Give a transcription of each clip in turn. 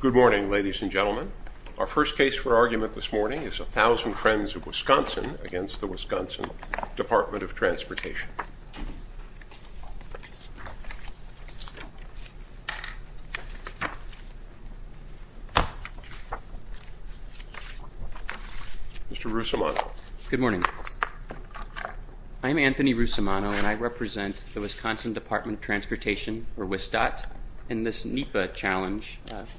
Good morning, ladies and gentlemen. Our first case for argument this morning is 1,000 Friends of Wisconsin against the Wisconsin Department of Transportation. Mr. Russomano. Good morning. I'm Anthony Russomano, and I represent the Wisconsin Department of Transportation, or WSDOT, in this NEPA challenge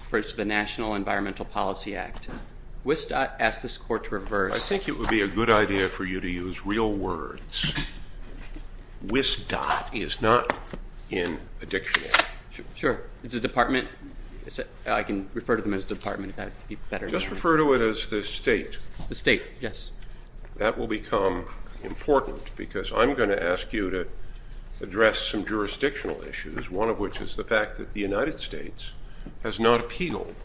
for the National Environmental Policy Act. WSDOT asked this court to reverse I think it would be a good idea for you to use real words. WSDOT is not in a dictionary. Sure. It's a department. I can refer to them as department if that would be better. Just refer to it as the state. The state, yes. That will become important because I'm going to ask you to address some jurisdictional issues, one of which is the fact that the United States has not appealed.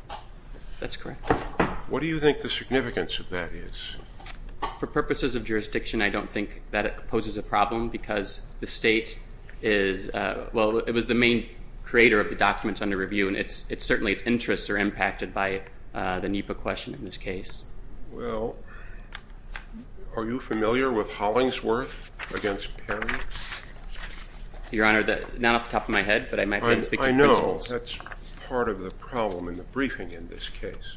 That's correct. What do you think the significance of that is? For purposes of jurisdiction, I don't think that poses a problem because the state is, well, it was the main creator of the documents under review, and certainly its interests are impacted by the NEPA question in this case. Well, are you familiar with Hollingsworth against Perry? Your Honor, not off the top of my head, but I might be able to speak to the principles. I know. That's part of the problem in the briefing in this case.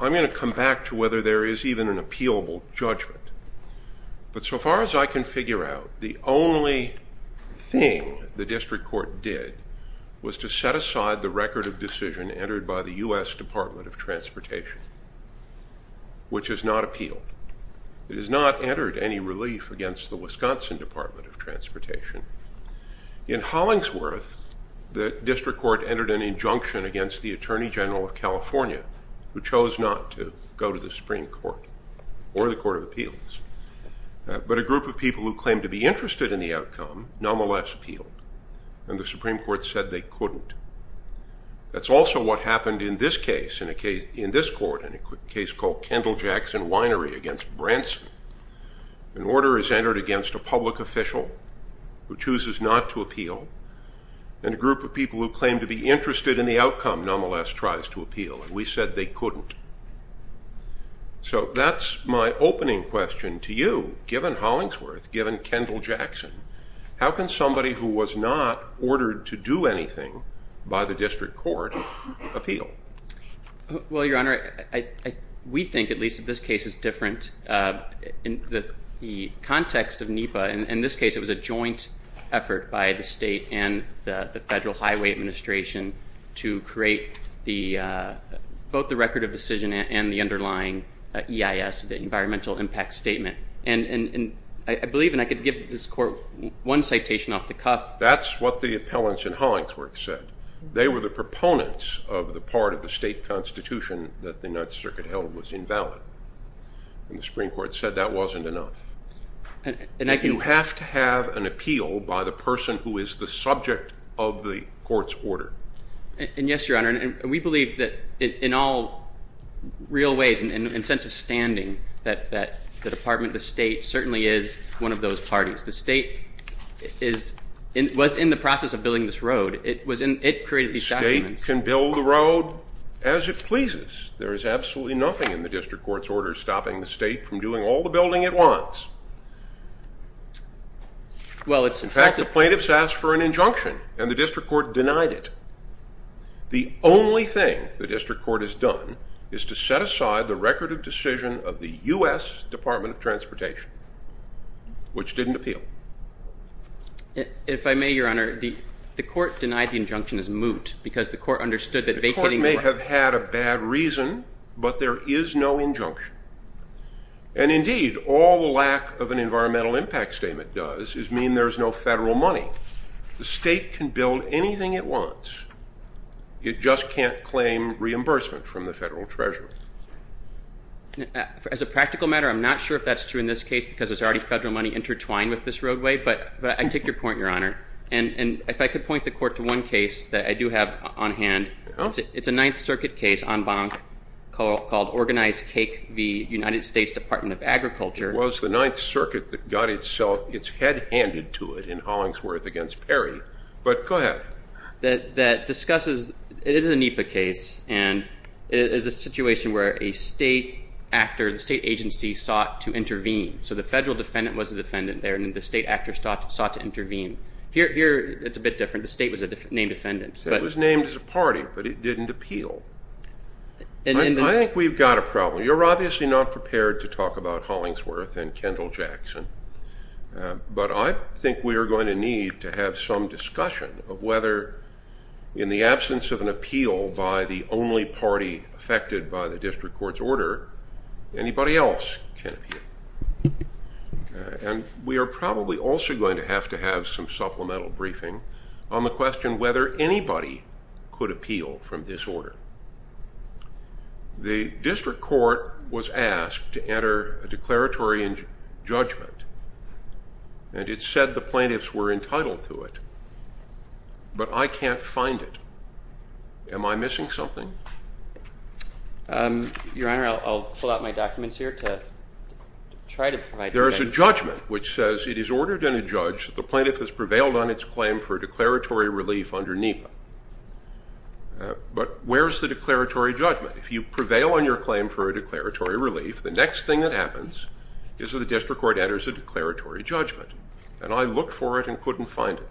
I'm going to come back to whether there is even an appealable judgment. But so far as I can figure out, the only thing the district court did was to set aside the record of decision entered by the U.S. Department of Transportation, which has not appealed. It has not entered any relief against the Wisconsin Department of Transportation. In Hollingsworth, the district court entered an injunction against the Attorney General of California, who chose not to go to the Supreme Court or the Court of Appeals. But a group of people who claimed to be interested in the outcome nonetheless appealed, and the Supreme Court said they couldn't. That's also what happened in this case, in this court, in a case called Kendall Jackson Winery against Branson. An order is entered against a public official who chooses not to appeal, and a group of people who claim to be interested in the outcome nonetheless tries to appeal, and we said they couldn't. So that's my opening question to you. Given Hollingsworth, given Kendall Jackson, how can somebody who was not ordered to do anything by the district court appeal? Well, Your Honor, we think, at least in this case, it's different. In the context of NEPA, in this case, it was a joint effort by the state and the Federal Highway Administration to create both the record of decision and the underlying EIS, the Environmental Impact Statement. And I believe, and I could give this court one citation off the cuff. That's what the appellants in Hollingsworth said. They were the proponents of the part of the state constitution that the Ninth Circuit held was invalid, and the Supreme Court said that wasn't enough. You have to have an appeal by the person who is the subject of the court's order. And yes, Your Honor, and we believe that in all real ways, in a sense of standing, that the department, the state, certainly is one of those parties. The state was in the process of building this road. It created these documents. The state can build the road as it pleases. There is absolutely nothing in the district court's order stopping the state from doing all the building it wants. Well, it's in fact- In fact, the plaintiffs asked for an injunction, and the district court denied it. The only thing the district court has done is to set aside the record of decision of the U.S. Department of Transportation, which didn't appeal. If I may, Your Honor, the court denied the injunction as moot because the court understood that vacating- The court may have had a bad reason, but there is no injunction. And indeed, all the lack of an Environmental Impact Statement does is mean there is no federal money. So the state can build anything it wants. It just can't claim reimbursement from the federal treasury. As a practical matter, I'm not sure if that's true in this case because there's already federal money intertwined with this roadway. But I take your point, Your Honor. And if I could point the court to one case that I do have on hand. It's a Ninth Circuit case en banc called Organized Cake v. United States Department of Agriculture. It was the Ninth Circuit that got its head handed to it in Hollingsworth v. Perry. But go ahead. It is a NEPA case, and it is a situation where a state actor, the state agency, sought to intervene. So the federal defendant was a defendant there, and the state actor sought to intervene. Here it's a bit different. The state was a named defendant. It was named as a party, but it didn't appeal. I think we've got a problem. You're obviously not prepared to talk about Hollingsworth and Kendall-Jackson, but I think we are going to need to have some discussion of whether, in the absence of an appeal by the only party affected by the district court's order, anybody else can appeal. And we are probably also going to have to have some supplemental briefing on the question whether anybody could appeal from this order. The district court was asked to enter a declaratory judgment, and it said the plaintiffs were entitled to it. But I can't find it. Am I missing something? Your Honor, I'll pull out my documents here to try to provide you with that. There is a judgment which says it is ordered in a judge that the plaintiff has prevailed on its claim for declaratory relief under NEPA. But where is the declaratory judgment? If you prevail on your claim for a declaratory relief, the next thing that happens is that the district court enters a declaratory judgment. And I looked for it and couldn't find it.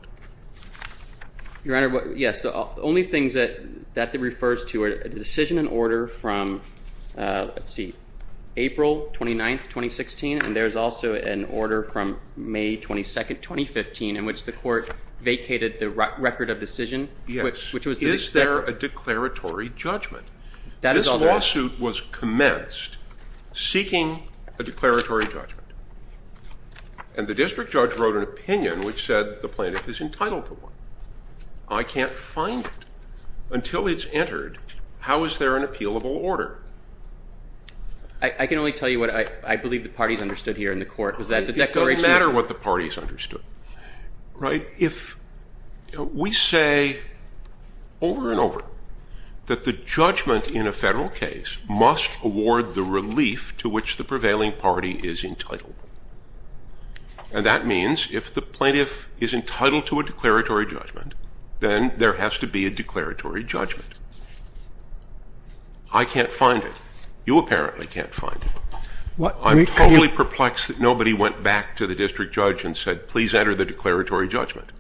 Your Honor, yes, the only things that that refers to are the decision and order from, let's see, April 29, 2016, and there's also an order from May 22, 2015, in which the court vacated the record of decision. Yes, is there a declaratory judgment? That is all there is. This lawsuit was commenced seeking a declaratory judgment. And the district judge wrote an opinion which said the plaintiff is entitled to one. I can't find it. Until it's entered, how is there an appealable order? I can only tell you what I believe the parties understood here in the court. It doesn't matter what the parties understood, right? If we say over and over that the judgment in a federal case must award the relief to which the prevailing party is entitled, and that means if the plaintiff is entitled to a declaratory judgment, then there has to be a declaratory judgment. I can't find it. You apparently can't find it. I'm totally perplexed that nobody went back to the district judge and said, please enter the declaratory judgment.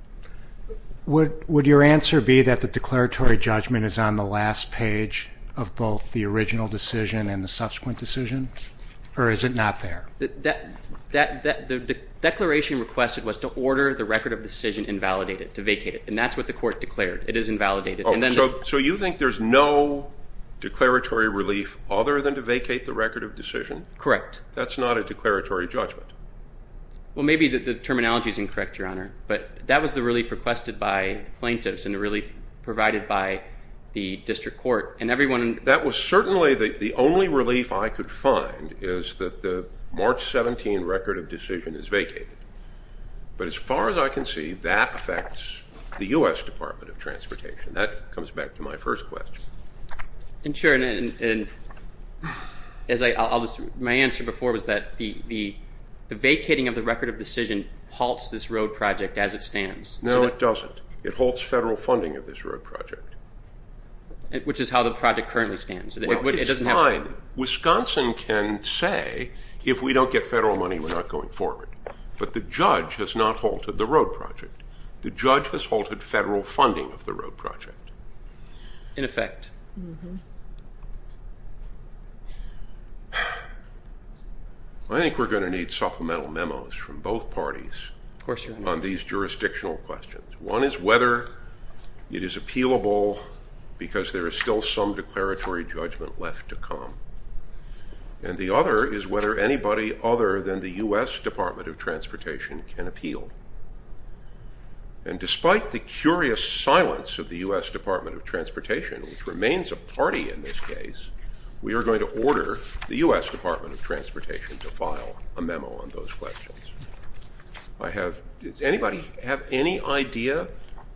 Would your answer be that the declaratory judgment is on the last page of both the original decision and the subsequent decision, or is it not there? The declaration requested was to order the record of decision invalidated, to vacate it, and that's what the court declared. It is invalidated. So you think there's no declaratory relief other than to vacate the record of decision? Correct. That's not a declaratory judgment. Well, maybe the terminology is incorrect, Your Honor, but that was the relief requested by the plaintiffs and the relief provided by the district court. That was certainly the only relief I could find is that the March 17 record of decision is vacated. But as far as I can see, that affects the U.S. Department of Transportation. That comes back to my first question. And, sure, my answer before was that the vacating of the record of decision halts this road project as it stands. No, it doesn't. It halts federal funding of this road project. Which is how the project currently stands. Well, it's fine. Wisconsin can say if we don't get federal money, we're not going forward. But the judge has not halted the road project. The judge has halted federal funding of the road project. In effect. I think we're going to need supplemental memos from both parties on these jurisdictional questions. One is whether it is appealable because there is still some declaratory judgment left to come. And the other is whether anybody other than the U.S. Department of Transportation can appeal. And despite the curious silence of the U.S. Department of Transportation, which remains a party in this case, we are going to order the U.S. Department of Transportation to file a memo on those questions. Does anybody have any idea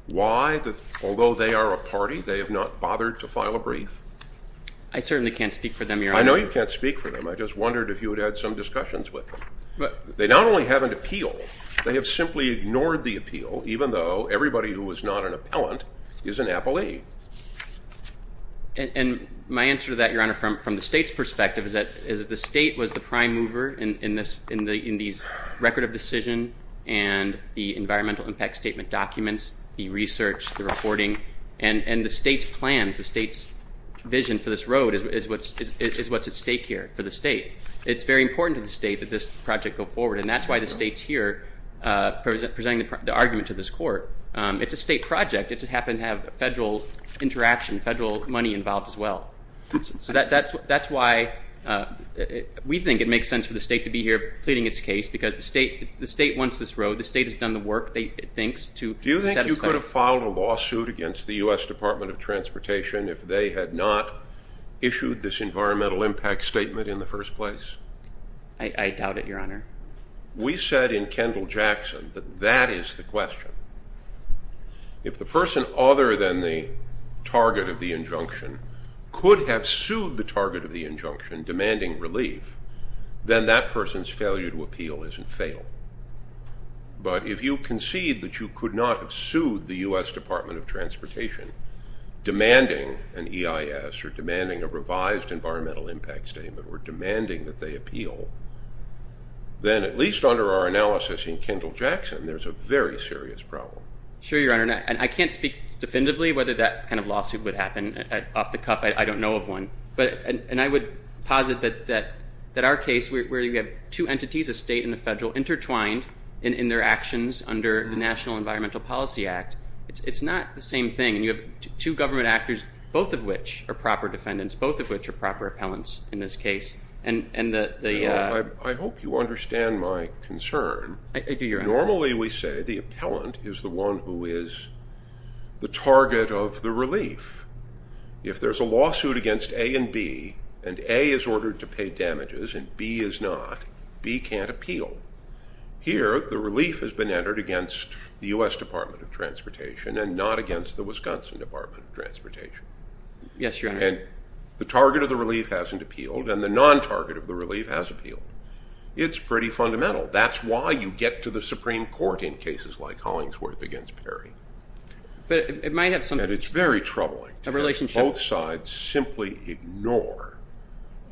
why, although they are a party, they have not bothered to file a brief? I certainly can't speak for them, Your Honor. I know you can't speak for them. I just wondered if you would add some discussions with them. They not only haven't appealed. They have simply ignored the appeal, even though everybody who was not an appellant is an appellee. And my answer to that, Your Honor, from the state's perspective is that the state was the prime mover in these record of decision and the environmental impact statement documents, the research, the reporting. And the state's plans, the state's vision for this road is what's at stake here for the state. It's very important to the state that this project go forward. And that's why the state's here presenting the argument to this court. It's a state project. It happened to have federal interaction, federal money involved as well. So that's why we think it makes sense for the state to be here pleading its case because the state wants this road. The state has done the work, it thinks, to satisfy it. Do you think you could have filed a lawsuit against the U.S. Department of Transportation if they had not issued this environmental impact statement in the first place? I doubt it, Your Honor. We said in Kendall-Jackson that that is the question. If the person other than the target of the injunction could have sued the target of the injunction demanding relief, then that person's failure to appeal isn't fatal. But if you concede that you could not have sued the U.S. Department of Transportation demanding an EIS or demanding a revised environmental impact statement or demanding that they appeal, then at least under our analysis in Kendall-Jackson, there's a very serious problem. Sure, Your Honor. And I can't speak definitively whether that kind of lawsuit would happen. Off the cuff, I don't know of one. And I would posit that our case where you have two entities, a state and a federal, intertwined in their actions under the National Environmental Policy Act, it's not the same thing. And you have two government actors, both of which are proper defendants, both of which are proper appellants in this case. I hope you understand my concern. I do, Your Honor. Normally we say the appellant is the one who is the target of the relief. If there's a lawsuit against A and B and A is ordered to pay damages and B is not, B can't appeal. Here the relief has been entered against the U.S. Department of Transportation Yes, Your Honor. And the target of the relief hasn't appealed and the non-target of the relief has appealed. It's pretty fundamental. That's why you get to the Supreme Court in cases like Hollingsworth against Perry. But it might have something to do with a relationship. And it's very troubling that both sides simply ignore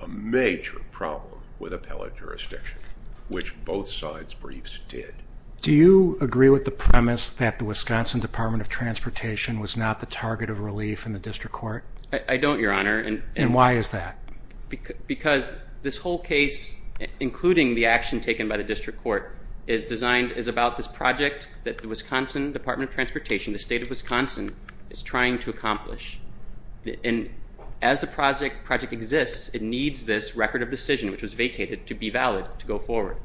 a major problem with appellate jurisdiction, which both sides' briefs did. Do you agree with the premise that the Wisconsin Department of Transportation was not the target of relief in the district court? I don't, Your Honor. And why is that? Because this whole case, including the action taken by the district court, is about this project that the Wisconsin Department of Transportation, the state of Wisconsin, is trying to accomplish. And as the project exists, it needs this record of decision, which was vacated, to be valid to go forward.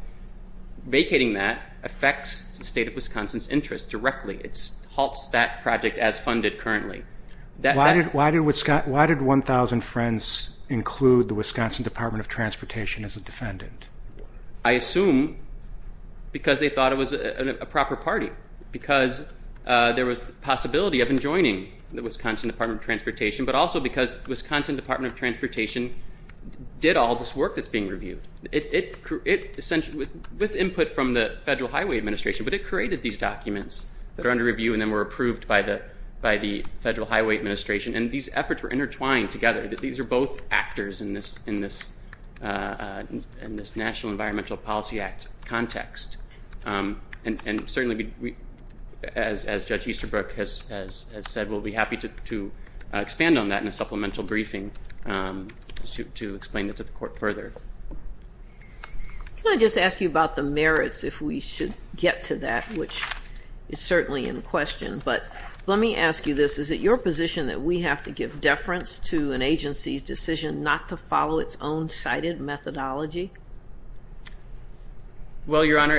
Vacating that affects the state of Wisconsin's interest directly. It halts that project as funded currently. Why did 1,000 Friends include the Wisconsin Department of Transportation as a defendant? I assume because they thought it was a proper party, because there was the possibility of enjoining the Wisconsin Department of Transportation, but also because the Wisconsin Department of Transportation did all this work that's being reviewed, with input from the Federal Highway Administration. But it created these documents that are under review and then were approved by the Federal Highway Administration. And these efforts were intertwined together. These are both actors in this National Environmental Policy Act context. And certainly, as Judge Easterbrook has said, we'll be happy to expand on that in a supplemental briefing to explain it to the court further. Can I just ask you about the merits, if we should get to that, which is certainly in question? But let me ask you this. Is it your position that we have to give deference to an agency's decision not to follow its own cited methodology? Well, Your Honor,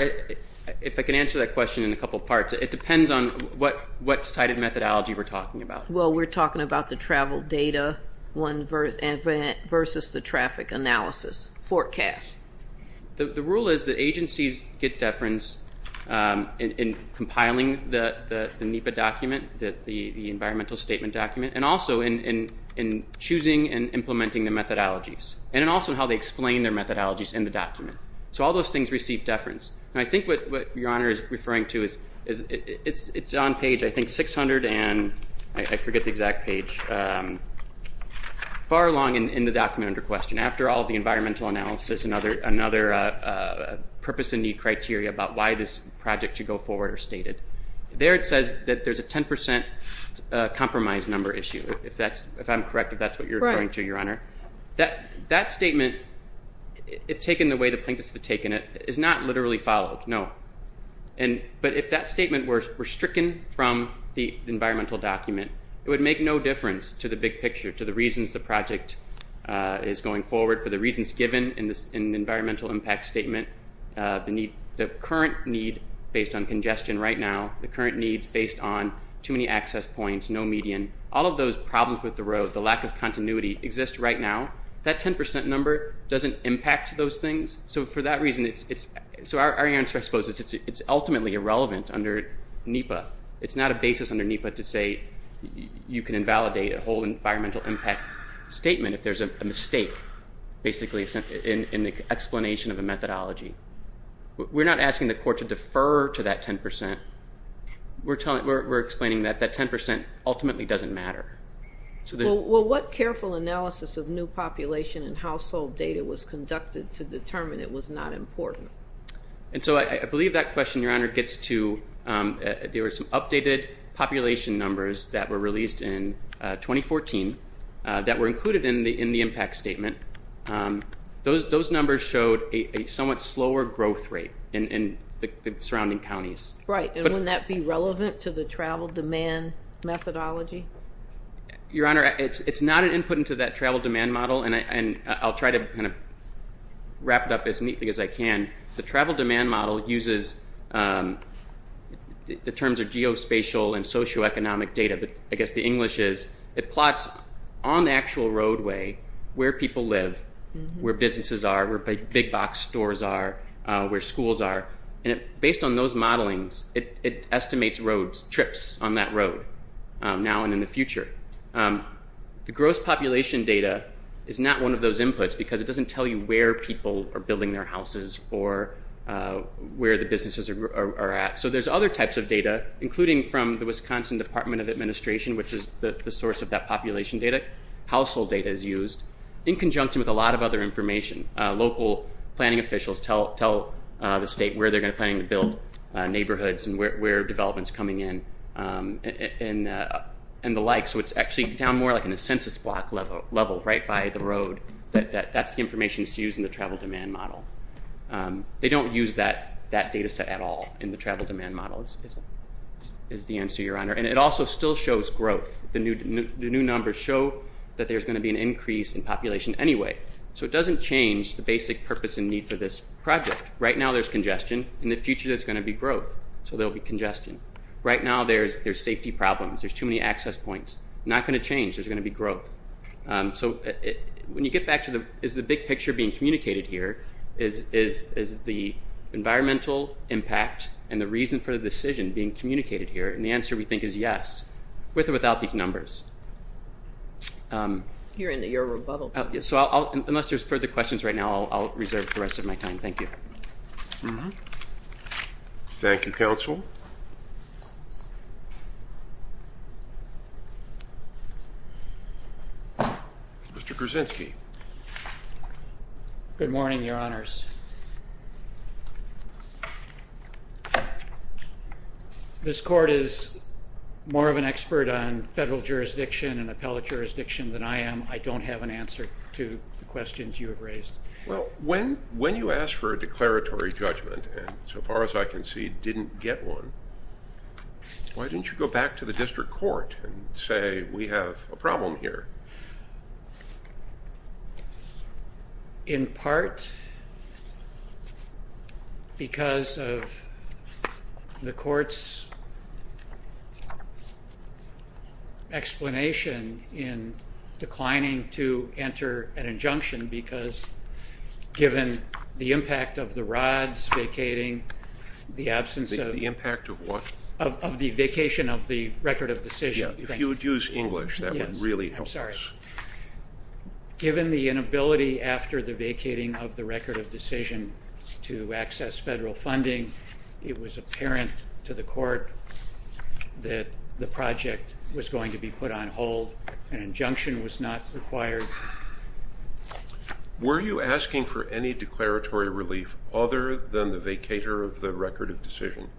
if I can answer that question in a couple parts, it depends on what cited methodology we're talking about. Well, we're talking about the travel data versus the traffic analysis forecast. The rule is that agencies get deference in compiling the NEPA document, the environmental statement document, and also in choosing and implementing the methodologies, and also how they explain their methodologies in the document. So all those things receive deference. And I think what Your Honor is referring to is it's on page, I think, 600 and I forget the exact page. Far along in the document under question, after all the environmental analysis and other purpose and need criteria about why this project should go forward are stated. There it says that there's a 10% compromise number issue, if I'm correct, if that's what you're referring to, Your Honor. That statement, if taken the way the plaintiffs have taken it, is not literally followed, no. But if that statement were stricken from the environmental document, it would make no difference to the big picture, to the reasons the project is going forward, for the reasons given in the environmental impact statement, the current need based on congestion right now, the current needs based on too many access points, no median. All of those problems with the road, the lack of continuity, exist right now. That 10% number doesn't impact those things. So for that reason, so our answer, I suppose, is it's ultimately irrelevant under NEPA. It's not a basis under NEPA to say you can invalidate a whole environmental impact statement if there's a mistake, basically, in the explanation of a methodology. We're not asking the court to defer to that 10%. We're explaining that that 10% ultimately doesn't matter. Well, what careful analysis of new population and household data was conducted to determine it was not important? And so I believe that question, Your Honor, gets to there were some updated population numbers that were released in 2014 that were included in the impact statement. Those numbers showed a somewhat slower growth rate in the surrounding counties. Right, and wouldn't that be relevant to the travel demand methodology? Your Honor, it's not an input into that travel demand model, and I'll try to kind of wrap it up as neatly as I can. The travel demand model uses the terms of geospatial and socioeconomic data, but I guess the English is it plots on the actual roadway where people live, where businesses are, where big box stores are, where schools are. And based on those modelings, it estimates trips on that road now and in the future. The gross population data is not one of those inputs because it doesn't tell you where people are building their houses or where the businesses are at. So there's other types of data, including from the Wisconsin Department of Administration, which is the source of that population data. Household data is used in conjunction with a lot of other information. Local planning officials tell the state where they're planning to build neighborhoods and where development's coming in and the like. So it's actually down more like in a census block level right by the road. That's the information that's used in the travel demand model. They don't use that data set at all in the travel demand model, is the answer, Your Honor. And it also still shows growth. The new numbers show that there's going to be an increase in population anyway. So it doesn't change the basic purpose and need for this project. Right now, there's congestion. In the future, there's going to be growth, so there will be congestion. Right now, there's safety problems. There's too many access points. Not going to change. There's going to be growth. So when you get back to the big picture being communicated here is the environmental impact and the reason for the decision being communicated here, and the answer, we think, is yes, with or without these numbers. You're into your rebuttal. So unless there's further questions right now, I'll reserve the rest of my time. Thank you. Thank you, Counsel. Mr. Krasinski. Good morning, Your Honors. This Court is more of an expert on federal jurisdiction and appellate jurisdiction than I am. I don't have an answer to the questions you have raised. Well, when you asked for a declaratory judgment, and so far as I can see, didn't get one, why didn't you go back to the district court and say, we have a problem here? In part, because of the court's explanation in declining to enter an injunction, because given the impact of the rods vacating, the absence of... The impact of what? Of the vacation of the record of decision. If you would use English, that would really help us. Sorry. Given the inability after the vacating of the record of decision to access federal funding, it was apparent to the court that the project was going to be put on hold. An injunction was not required. Were you asking for any declaratory relief other than the vacator of the record of decision?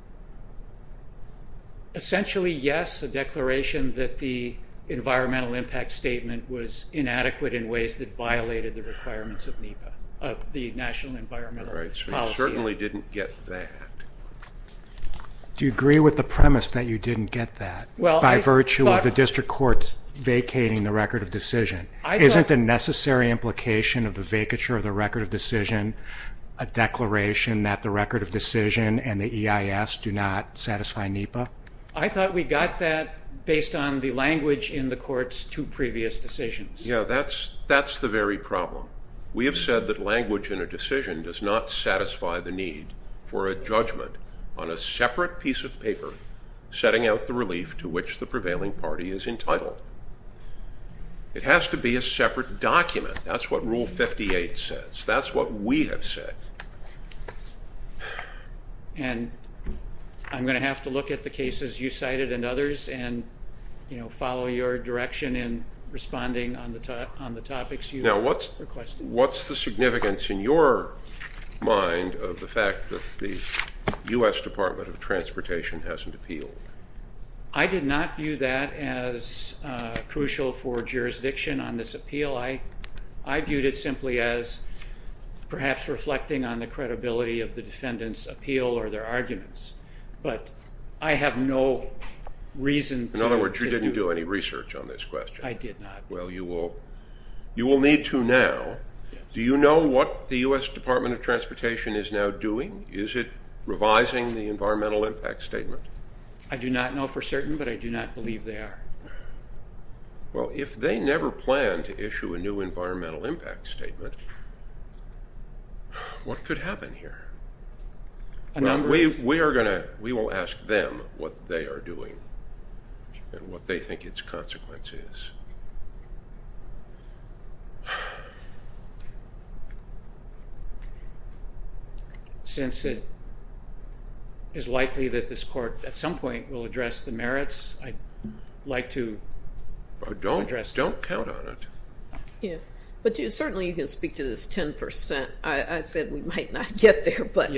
Essentially, yes. A declaration that the environmental impact statement was inadequate in ways that violated the requirements of NEPA, of the National Environmental Policy Act. You certainly didn't get that. Do you agree with the premise that you didn't get that, by virtue of the district court's vacating the record of decision? Isn't the necessary implication of the vacature of the record of decision a declaration that the record of decision and the EIS do not satisfy NEPA? I thought we got that based on the language in the court's two previous decisions. Yeah, that's the very problem. We have said that language in a decision does not satisfy the need for a judgment on a separate piece of paper setting out the relief to which the prevailing party is entitled. It has to be a separate document. That's what Rule 58 says. That's what we have said. And I'm going to have to look at the cases you cited and others and follow your direction in responding on the topics you've requested. Now, what's the significance in your mind of the fact that the U.S. Department of Transportation hasn't appealed? I did not view that as crucial for jurisdiction on this appeal. I viewed it simply as perhaps reflecting on the credibility of the defendant's appeal or their arguments. But I have no reason to... In other words, you didn't do any research on this question. I did not. Well, you will need to now. Do you know what the U.S. Department of Transportation is now doing? Is it revising the environmental impact statement? I do not know for certain, but I do not believe they are. Well, if they never plan to issue a new environmental impact statement, what could happen here? We will ask them what they are doing and what they think its consequence is. Since it is likely that this court at some point will address the merits, I'd like to address them. Don't count on it. But certainly you can speak to this 10%. I said we might not get there, but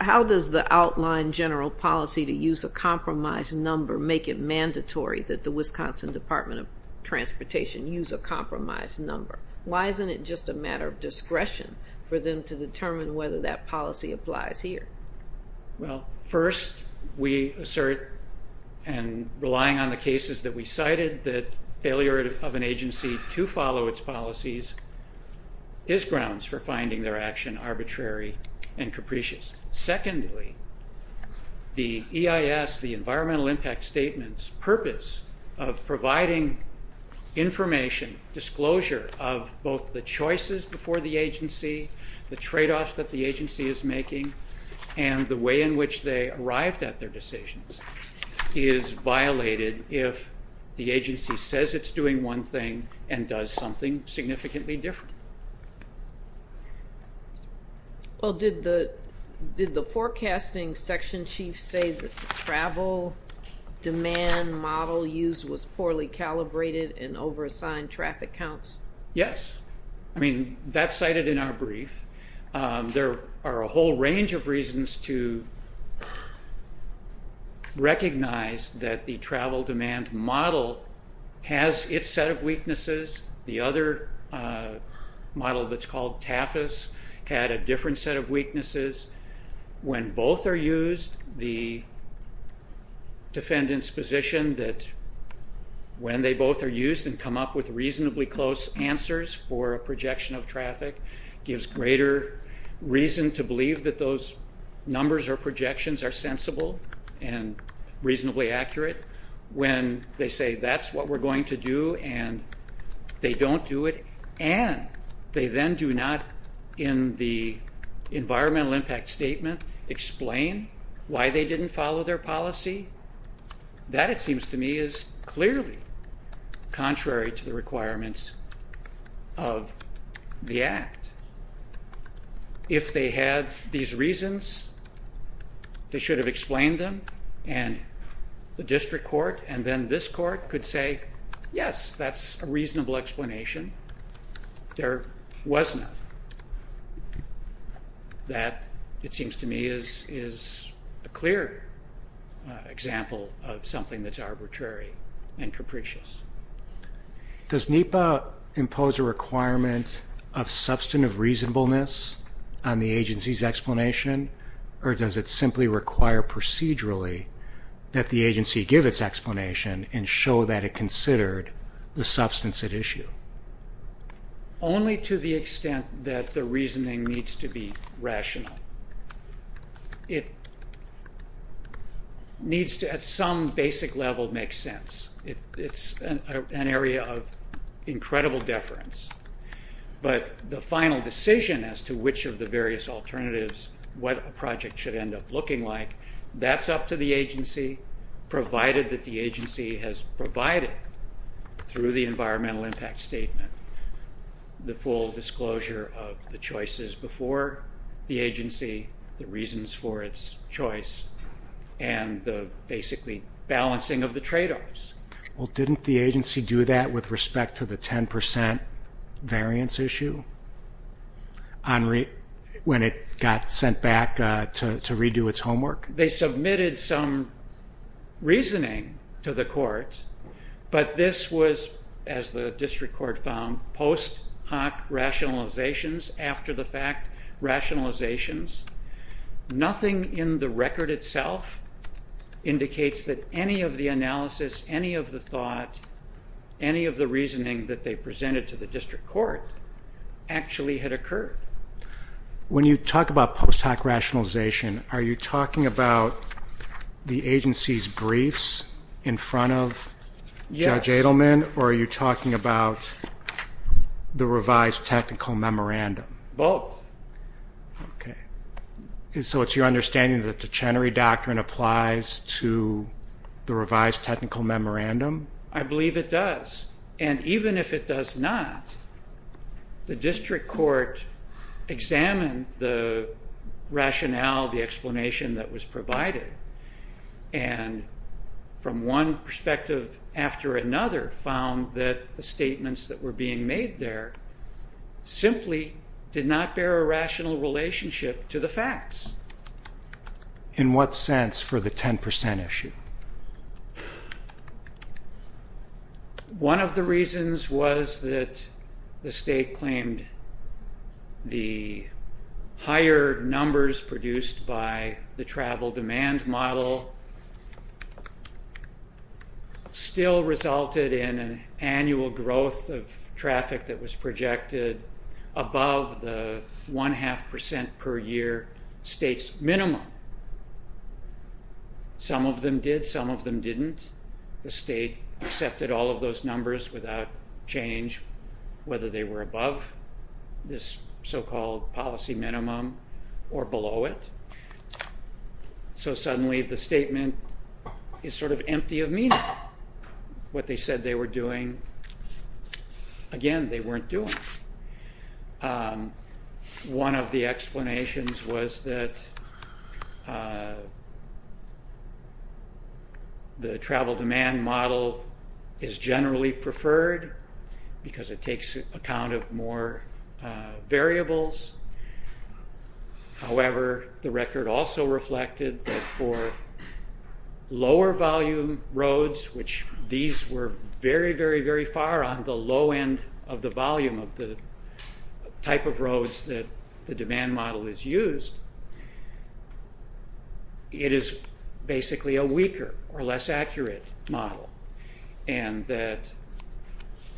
how does the outline general policy to use a compromise number make it mandatory that the Wisconsin Department of Transportation use a compromise number? Why isn't it just a matter of discretion for them to determine whether that policy applies here? Well, first, we assert, and relying on the cases that we cited, that failure of an agency to follow its policies is grounds for finding their action arbitrary and capricious. Secondly, the EIS, the environmental impact statement's purpose of providing information, disclosure of both the choices before the agency, the trade-offs that the agency is making, and the way in which they arrived at their decisions is violated if the agency says it's doing one thing and does something significantly different. Well, did the forecasting section chief say the travel demand model used was poorly calibrated and over-assigned traffic counts? Yes. I mean, that's cited in our brief. There are a whole range of reasons to recognize that the travel demand model has its set of weaknesses. The other model that's called TAFIS had a different set of weaknesses. When both are used, the defendant's position that when they both are used and come up with reasonably close answers for a projection of traffic gives greater reason to believe that those numbers or projections are sensible and reasonably accurate. When they say that's what we're going to do and they don't do it, and they then do not, in the environmental impact statement, explain why they didn't follow their policy, that, it seems to me, is clearly contrary to the requirements of the Act. If they had these reasons, they should have explained them, and the district court and then this court could say, yes, that's a reasonable explanation. There was none. That, it seems to me, is a clear example of something that's arbitrary and capricious. Does NEPA impose a requirement of substantive reasonableness on the agency's explanation, or does it simply require procedurally that the agency give its explanation only to the extent that the reasoning needs to be rational? It needs to, at some basic level, make sense. It's an area of incredible deference. But the final decision as to which of the various alternatives, what a project should end up looking like, that's up to the agency, provided that the agency has provided, through the environmental impact statement, the full disclosure of the choices before the agency, the reasons for its choice, and the, basically, balancing of the tradeoffs. Well, didn't the agency do that with respect to the 10% variance issue when it got sent back to redo its homework? They submitted some reasoning to the court, but this was, as the district court found, post hoc rationalizations after the fact rationalizations. Nothing in the record itself indicates that any of the analysis, any of the thought, any of the reasoning that they presented to the district court, actually had occurred. When you talk about post hoc rationalization, are you talking about the agency's briefs in front of Judge Edelman, or are you talking about the revised technical memorandum? Both. Okay. So it's your understanding that the Chenery Doctrine applies to the revised technical memorandum? I believe it does. And even if it does not, the district court examined the rationale, the explanation that was provided, and from one perspective after another, found that the statements that were being made there simply did not bear a rational relationship to the facts. In what sense for the 10% issue? One of the reasons was that the state claimed the higher numbers produced by the travel demand model still resulted in an annual growth of traffic that was projected above the 1.5% per year state's minimum. Some of them did, some of them didn't. The state accepted all of those numbers without change, whether they were above this so-called policy minimum or below it. So suddenly the statement is sort of empty of meaning. What they said they were doing, again, they weren't doing. One of the explanations was that the travel demand model is generally preferred because it takes account of more variables. However, the record also reflected that for lower volume roads, which these were very, very, very far on the low end of the volume of the type of roads that the demand model is used, it is basically a weaker or less accurate model, and that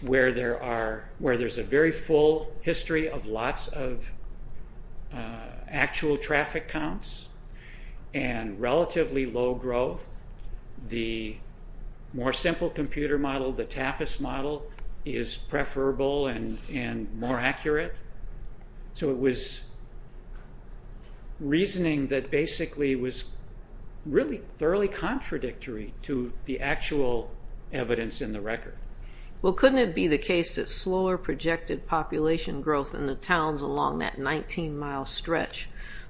where there's a very full history of lots of actual traffic counts and relatively low growth, the more simple computer model, the TAFIS model, is preferable and more accurate. So it was reasoning that basically was really thoroughly contradictory to the actual evidence in the record. Well, couldn't it be the case that slower projected population growth in the towns along that 19-mile stretch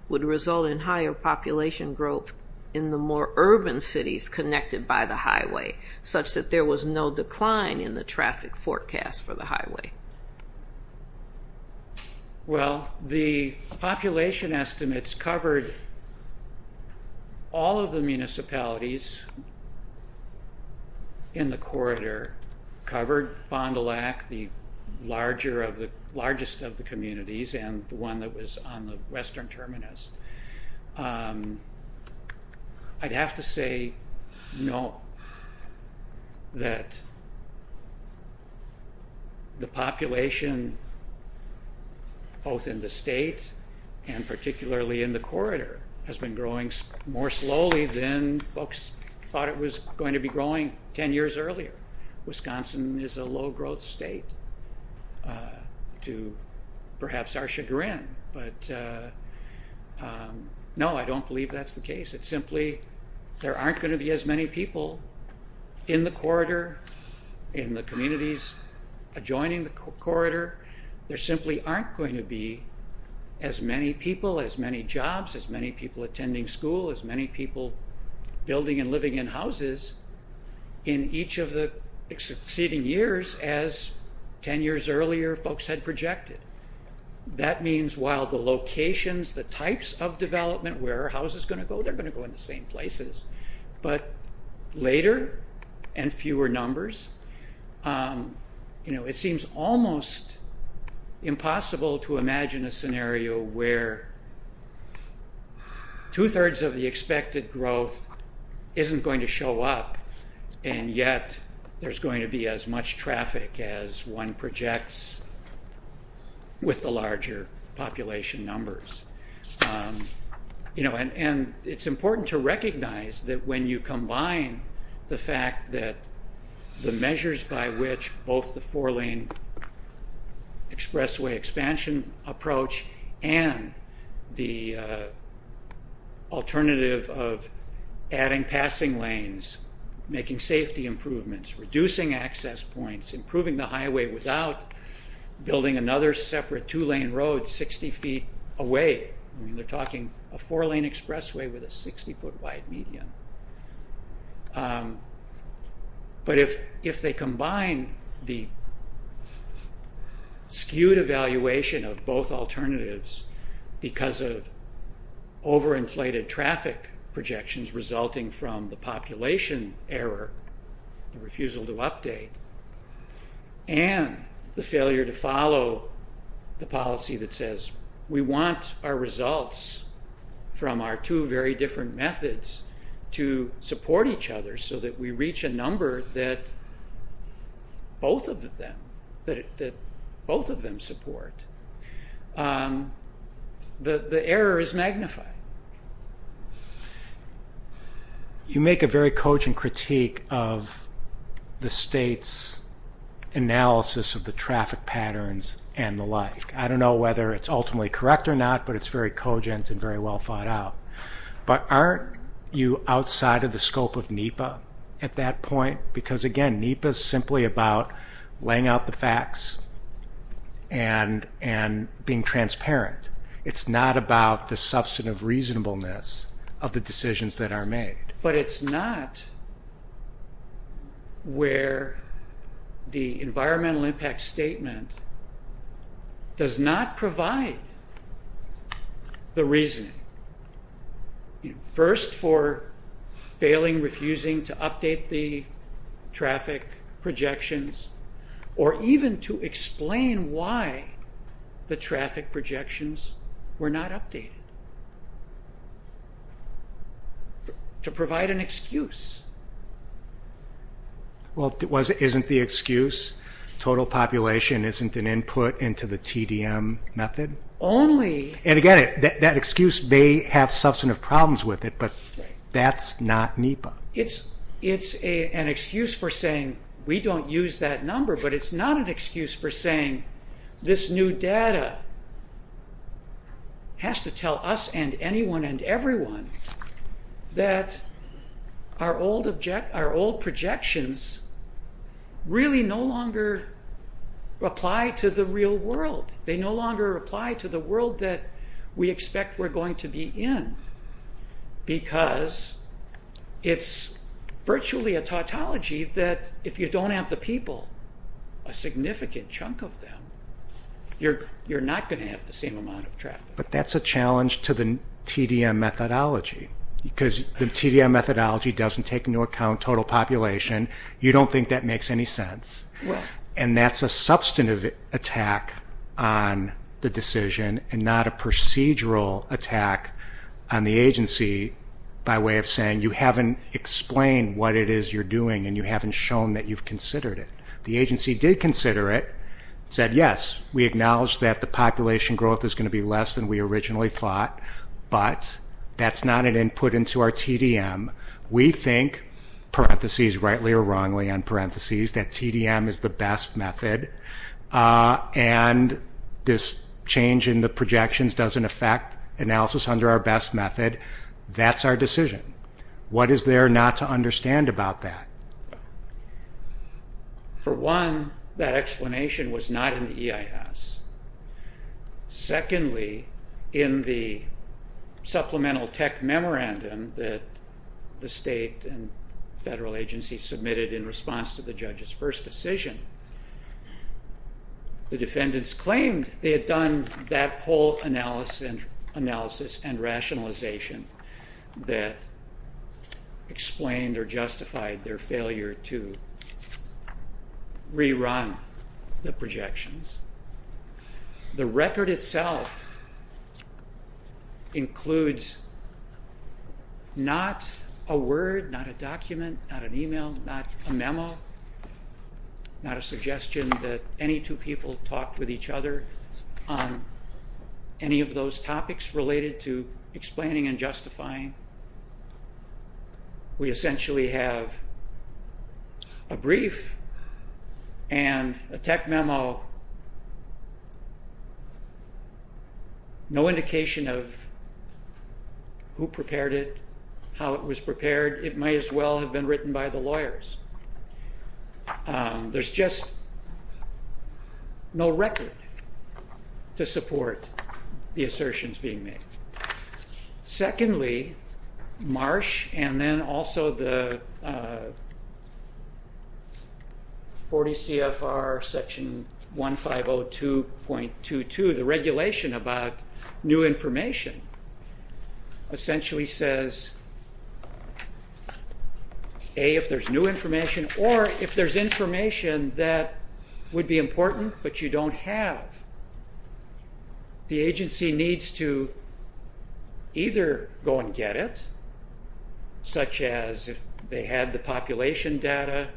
would result in higher population growth in the more urban cities connected by the highway, such that there was no decline in the traffic forecast for the highway? Well, the population estimates covered all of the municipalities in the corridor, covered Fond du Lac, the largest of the communities, and the one that was on the western terminus. I'd have to say no, that the population both in the state and particularly in the corridor has been growing more slowly than folks thought it was going to be growing 10 years earlier. Wisconsin is a low-growth state, to perhaps our chagrin, but no, I don't believe that's the case. It's simply there aren't going to be as many people in the corridor, in the communities adjoining the corridor. There simply aren't going to be as many people, as many jobs, as many people attending school, as many people building and living in houses in each of the succeeding years, as 10 years earlier folks had projected. That means while the locations, the types of development, where are houses going to go? They're going to go in the same places, but later and fewer numbers. It seems almost impossible to imagine a scenario where two-thirds of the expected growth isn't going to show up and yet there's going to be as much traffic as one projects with the larger population numbers. It's important to recognize that when you combine the fact that the measures by which both the four-lane expressway expansion approach and the alternative of adding passing lanes, making safety improvements, reducing access points, improving the highway without building another separate two-lane road 60 feet away. They're talking a four-lane expressway with a 60-foot wide median. But if they combine the skewed evaluation of both alternatives because of over-inflated traffic projections resulting from the population error, the refusal to update, and the failure to follow the policy that says we want our results from our two very different methods to support each other so that we reach a number that both of them support, the error is magnified. You make a very cogent critique of the state's analysis of the traffic patterns and the like. I don't know whether it's ultimately correct or not, but it's very cogent and very well thought out. But aren't you outside of the scope of NEPA at that point? Because again, NEPA is simply about laying out the facts and being transparent. It's not about the substantive reasonableness of the decisions that are made. But it's not where the environmental impact statement does not provide the reasoning, first for failing, refusing to update the traffic projections, or even to explain why the traffic projections were not updated, to provide an excuse. Well, isn't the excuse total population isn't an input into the TDM method? And again, that excuse may have substantive problems with it, but that's not NEPA. It's an excuse for saying we don't use that number, but it's not an excuse for saying this new data has to tell us and anyone and everyone that our old projections really no longer apply to the real world. They no longer apply to the world that we expect we're going to be in because it's virtually a tautology that if you don't have the people, a significant chunk of them, you're not going to have the same amount of traffic. But that's a challenge to the TDM methodology because the TDM methodology doesn't take into account total population. You don't think that makes any sense. And that's a substantive attack on the decision and not a procedural attack on the agency by way of saying you haven't explained what it is you're doing and you haven't shown that you've considered it. The agency did consider it, said yes, we acknowledge that the population growth is going to be less than we originally thought, but that's not an input into our TDM. We think, parentheses, rightly or wrongly on parentheses, that TDM is the best method and this change in the projections doesn't affect analysis under our best method. That's our decision. What is there not to understand about that? For one, that explanation was not in the EIS. Secondly, in the supplemental tech memorandum that the state and federal agencies submitted in response to the judge's first decision, the defendants claimed they had done that poll analysis and rationalization that explained or justified their failure to rerun the projections. The record itself includes not a word, not a document, not an email, not a memo, not a suggestion that any two people talked with each other on any of those topics related to explaining and justifying. We essentially have a brief and a tech memo, no indication of who prepared it, how it was prepared. It might as well have been written by the lawyers. There's just no record to support the assertions being made. Secondly, Marsh and then also the 40 CFR section 1502.22, the regulation about new information, essentially says, A, if there's new information or if there's information that would be important but you don't have. The agency needs to either go and get it, such as if they had the population data,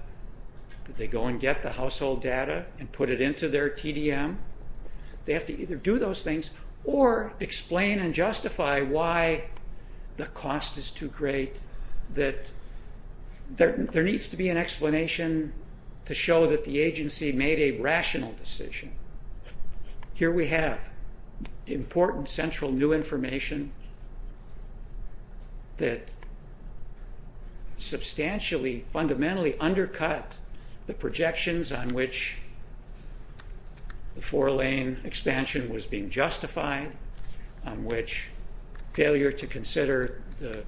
that they go and get the household data and put it into their TDM. They have to either do those things or explain and justify why the cost is too great. There needs to be an explanation to show that the agency made a rational decision. Here we have important central new information that substantially, fundamentally undercut the projections on which the four-lane expansion was being justified, on which failure to consider the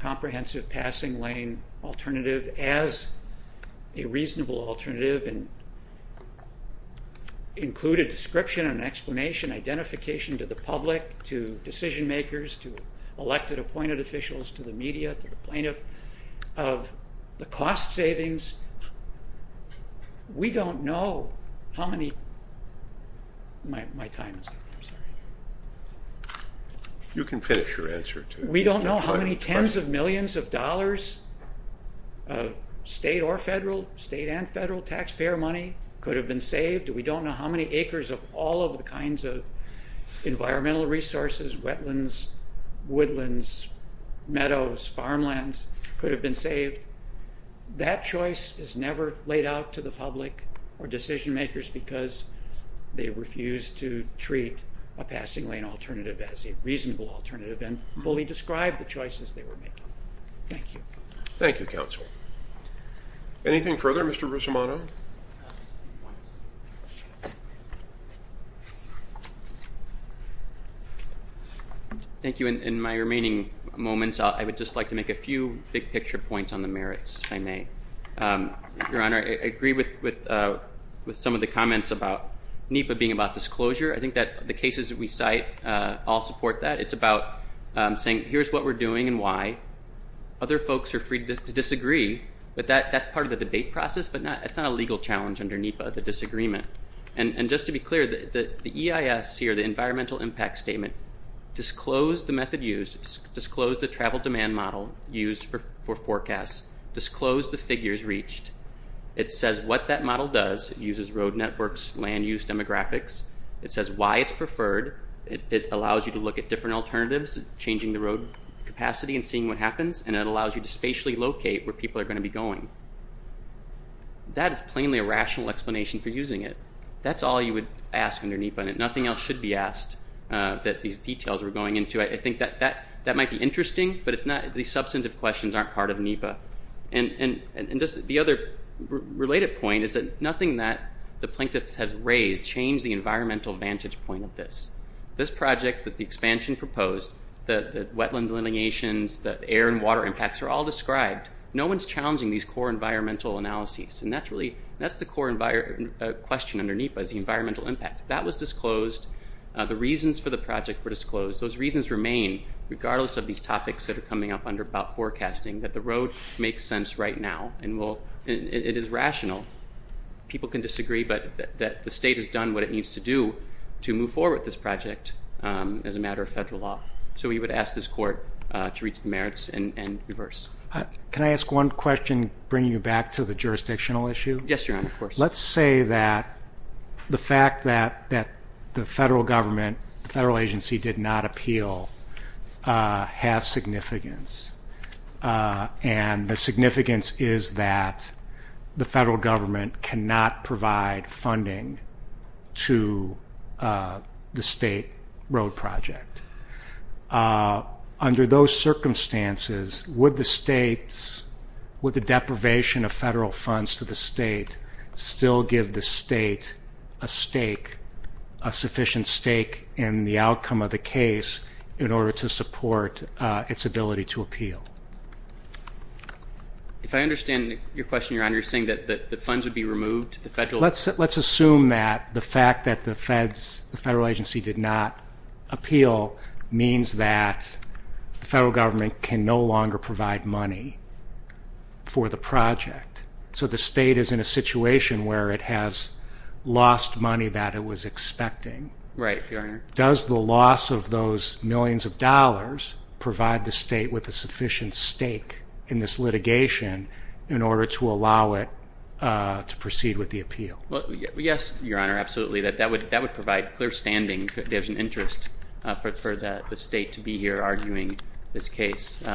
comprehensive passing lane alternative as a reasonable alternative and include a description, an explanation, identification to the public, to decision makers, to elected appointed officials, to the media, to the plaintiff, of the cost savings. We don't know how many tens of millions of dollars of state or federal, state and federal taxpayer money could have been saved. We don't know how many acres of all of the kinds of environmental resources, wetlands, woodlands, meadows, farmlands could have been saved. That choice is never laid out to the public or decision makers because they refuse to treat a passing lane alternative as a reasonable alternative and fully describe the choices they were making. Thank you. Thank you, counsel. Anything further, Mr. Russomano? Thank you. In my remaining moments, I would just like to make a few big picture points on the merits, if I may. Your Honor, I agree with some of the comments about NEPA being about disclosure. I think that the cases that we cite all support that. It's about saying, here's what we're doing and why. Other folks are free to disagree, but that's part of the debate process, but it's not a legal challenge under NEPA, the disagreement. And just to be clear, the EIS here, the Environmental Impact Statement, disclosed the method used, disclosed the travel demand model used for forecasts, disclosed the figures reached. It says what that model does. It uses road networks, land use demographics. It says why it's preferred. It allows you to look at different alternatives, changing the road capacity and seeing what happens, and it allows you to spatially locate where people are going to be going. That is plainly a rational explanation for using it. That's all you would ask under NEPA, and nothing else should be asked that these details are going into. I think that might be interesting, but these substantive questions aren't part of NEPA. And just the other related point is that nothing that the plaintiff has raised changed the environmental vantage point of this. This project that the expansion proposed, the wetland delineations, the air and water impacts are all described. No one's challenging these core environmental analyses, and that's the core question under NEPA is the environmental impact. That was disclosed. The reasons for the project were disclosed. Those reasons remain, regardless of these topics that are coming up under about forecasting, that the road makes sense right now, and it is rational. People can disagree, but the state has done what it needs to do to move forward with this project as a matter of federal law. So we would ask this court to reach the merits and reverse. Can I ask one question, bringing you back to the jurisdictional issue? Yes, Your Honor, of course. Let's say that the fact that the federal government, the federal agency did not appeal, has significance, and the significance is that the federal government cannot provide funding to the state road project. Under those circumstances, would the deprivation of federal funds to the state still give the state a stake, a sufficient stake in the outcome of the case in order to support its ability to appeal? If I understand your question, Your Honor, you're saying that the funds would be removed to the federal agency? Let's assume that the fact that the federal agency did not appeal means that the federal government can no longer provide money for the project. So the state is in a situation where it has lost money that it was expecting. Right, Your Honor. Does the loss of those millions of dollars provide the state with a sufficient stake in this litigation in order to allow it to proceed with the appeal? Yes, Your Honor, absolutely. That would provide clear standing. There's an interest for the state to be here arguing this case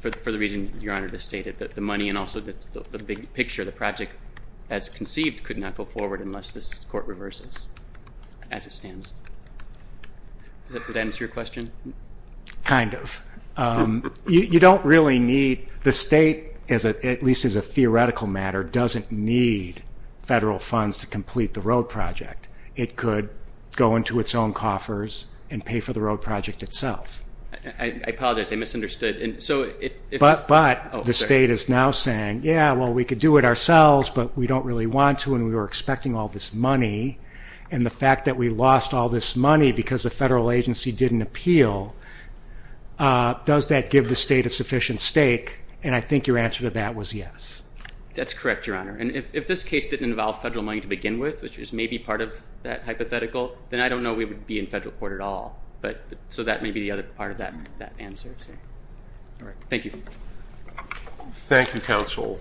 for the reason Your Honor just stated, that the money and also the big picture of the project as conceived could not go forward unless this court reverses as it stands. Does that answer your question? Kind of. You don't really need the state, at least as a theoretical matter, doesn't need federal funds to complete the road project. It could go into its own coffers and pay for the road project itself. I apologize, I misunderstood. But the state is now saying, yeah, well, we could do it ourselves, but we don't really want to and we were expecting all this money. And the fact that we lost all this money because the federal agency didn't appeal, does that give the state a sufficient stake? And I think your answer to that was yes. That's correct, Your Honor. And if this case didn't involve federal money to begin with, which is maybe part of that hypothetical, then I don't know we would be in federal court at all. So that may be the other part of that answer. Thank you. Thank you, Counsel.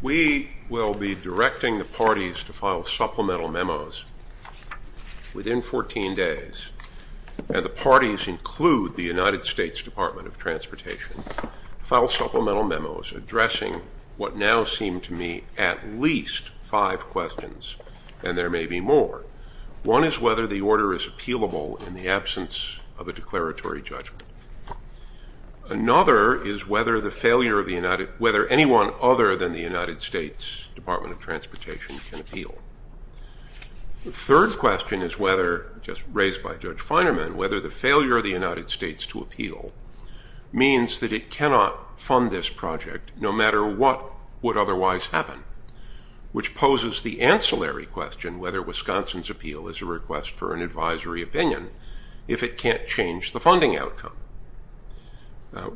We will be directing the parties to file supplemental memos within 14 days, and the parties include the United States Department of Transportation, to file supplemental memos addressing what now seem to me at least five questions, and there may be more. One is whether the order is appealable in the absence of a declaratory judgment. Another is whether anyone other than the United States Department of Transportation can appeal. The third question is whether, just raised by Judge Feinerman, whether the failure of the United States to appeal means that it cannot fund this project, no matter what would otherwise happen, which poses the ancillary question whether Wisconsin's appeal is a request for an advisory opinion if it can't change the funding outcome.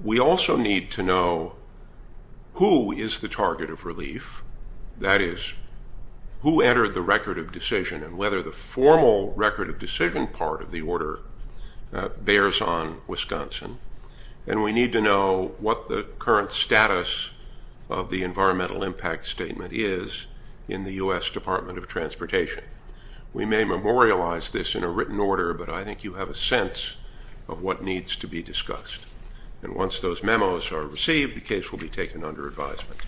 We also need to know who is the target of relief, that is, who entered the record of decision and whether the formal record of decision part of the order bears on Wisconsin. And we need to know what the current status of the environmental impact statement is in the U.S. Department of Transportation. We may memorialize this in a written order, but I think you have a sense of what needs to be discussed. And once those memos are received, the case will be taken under advisement.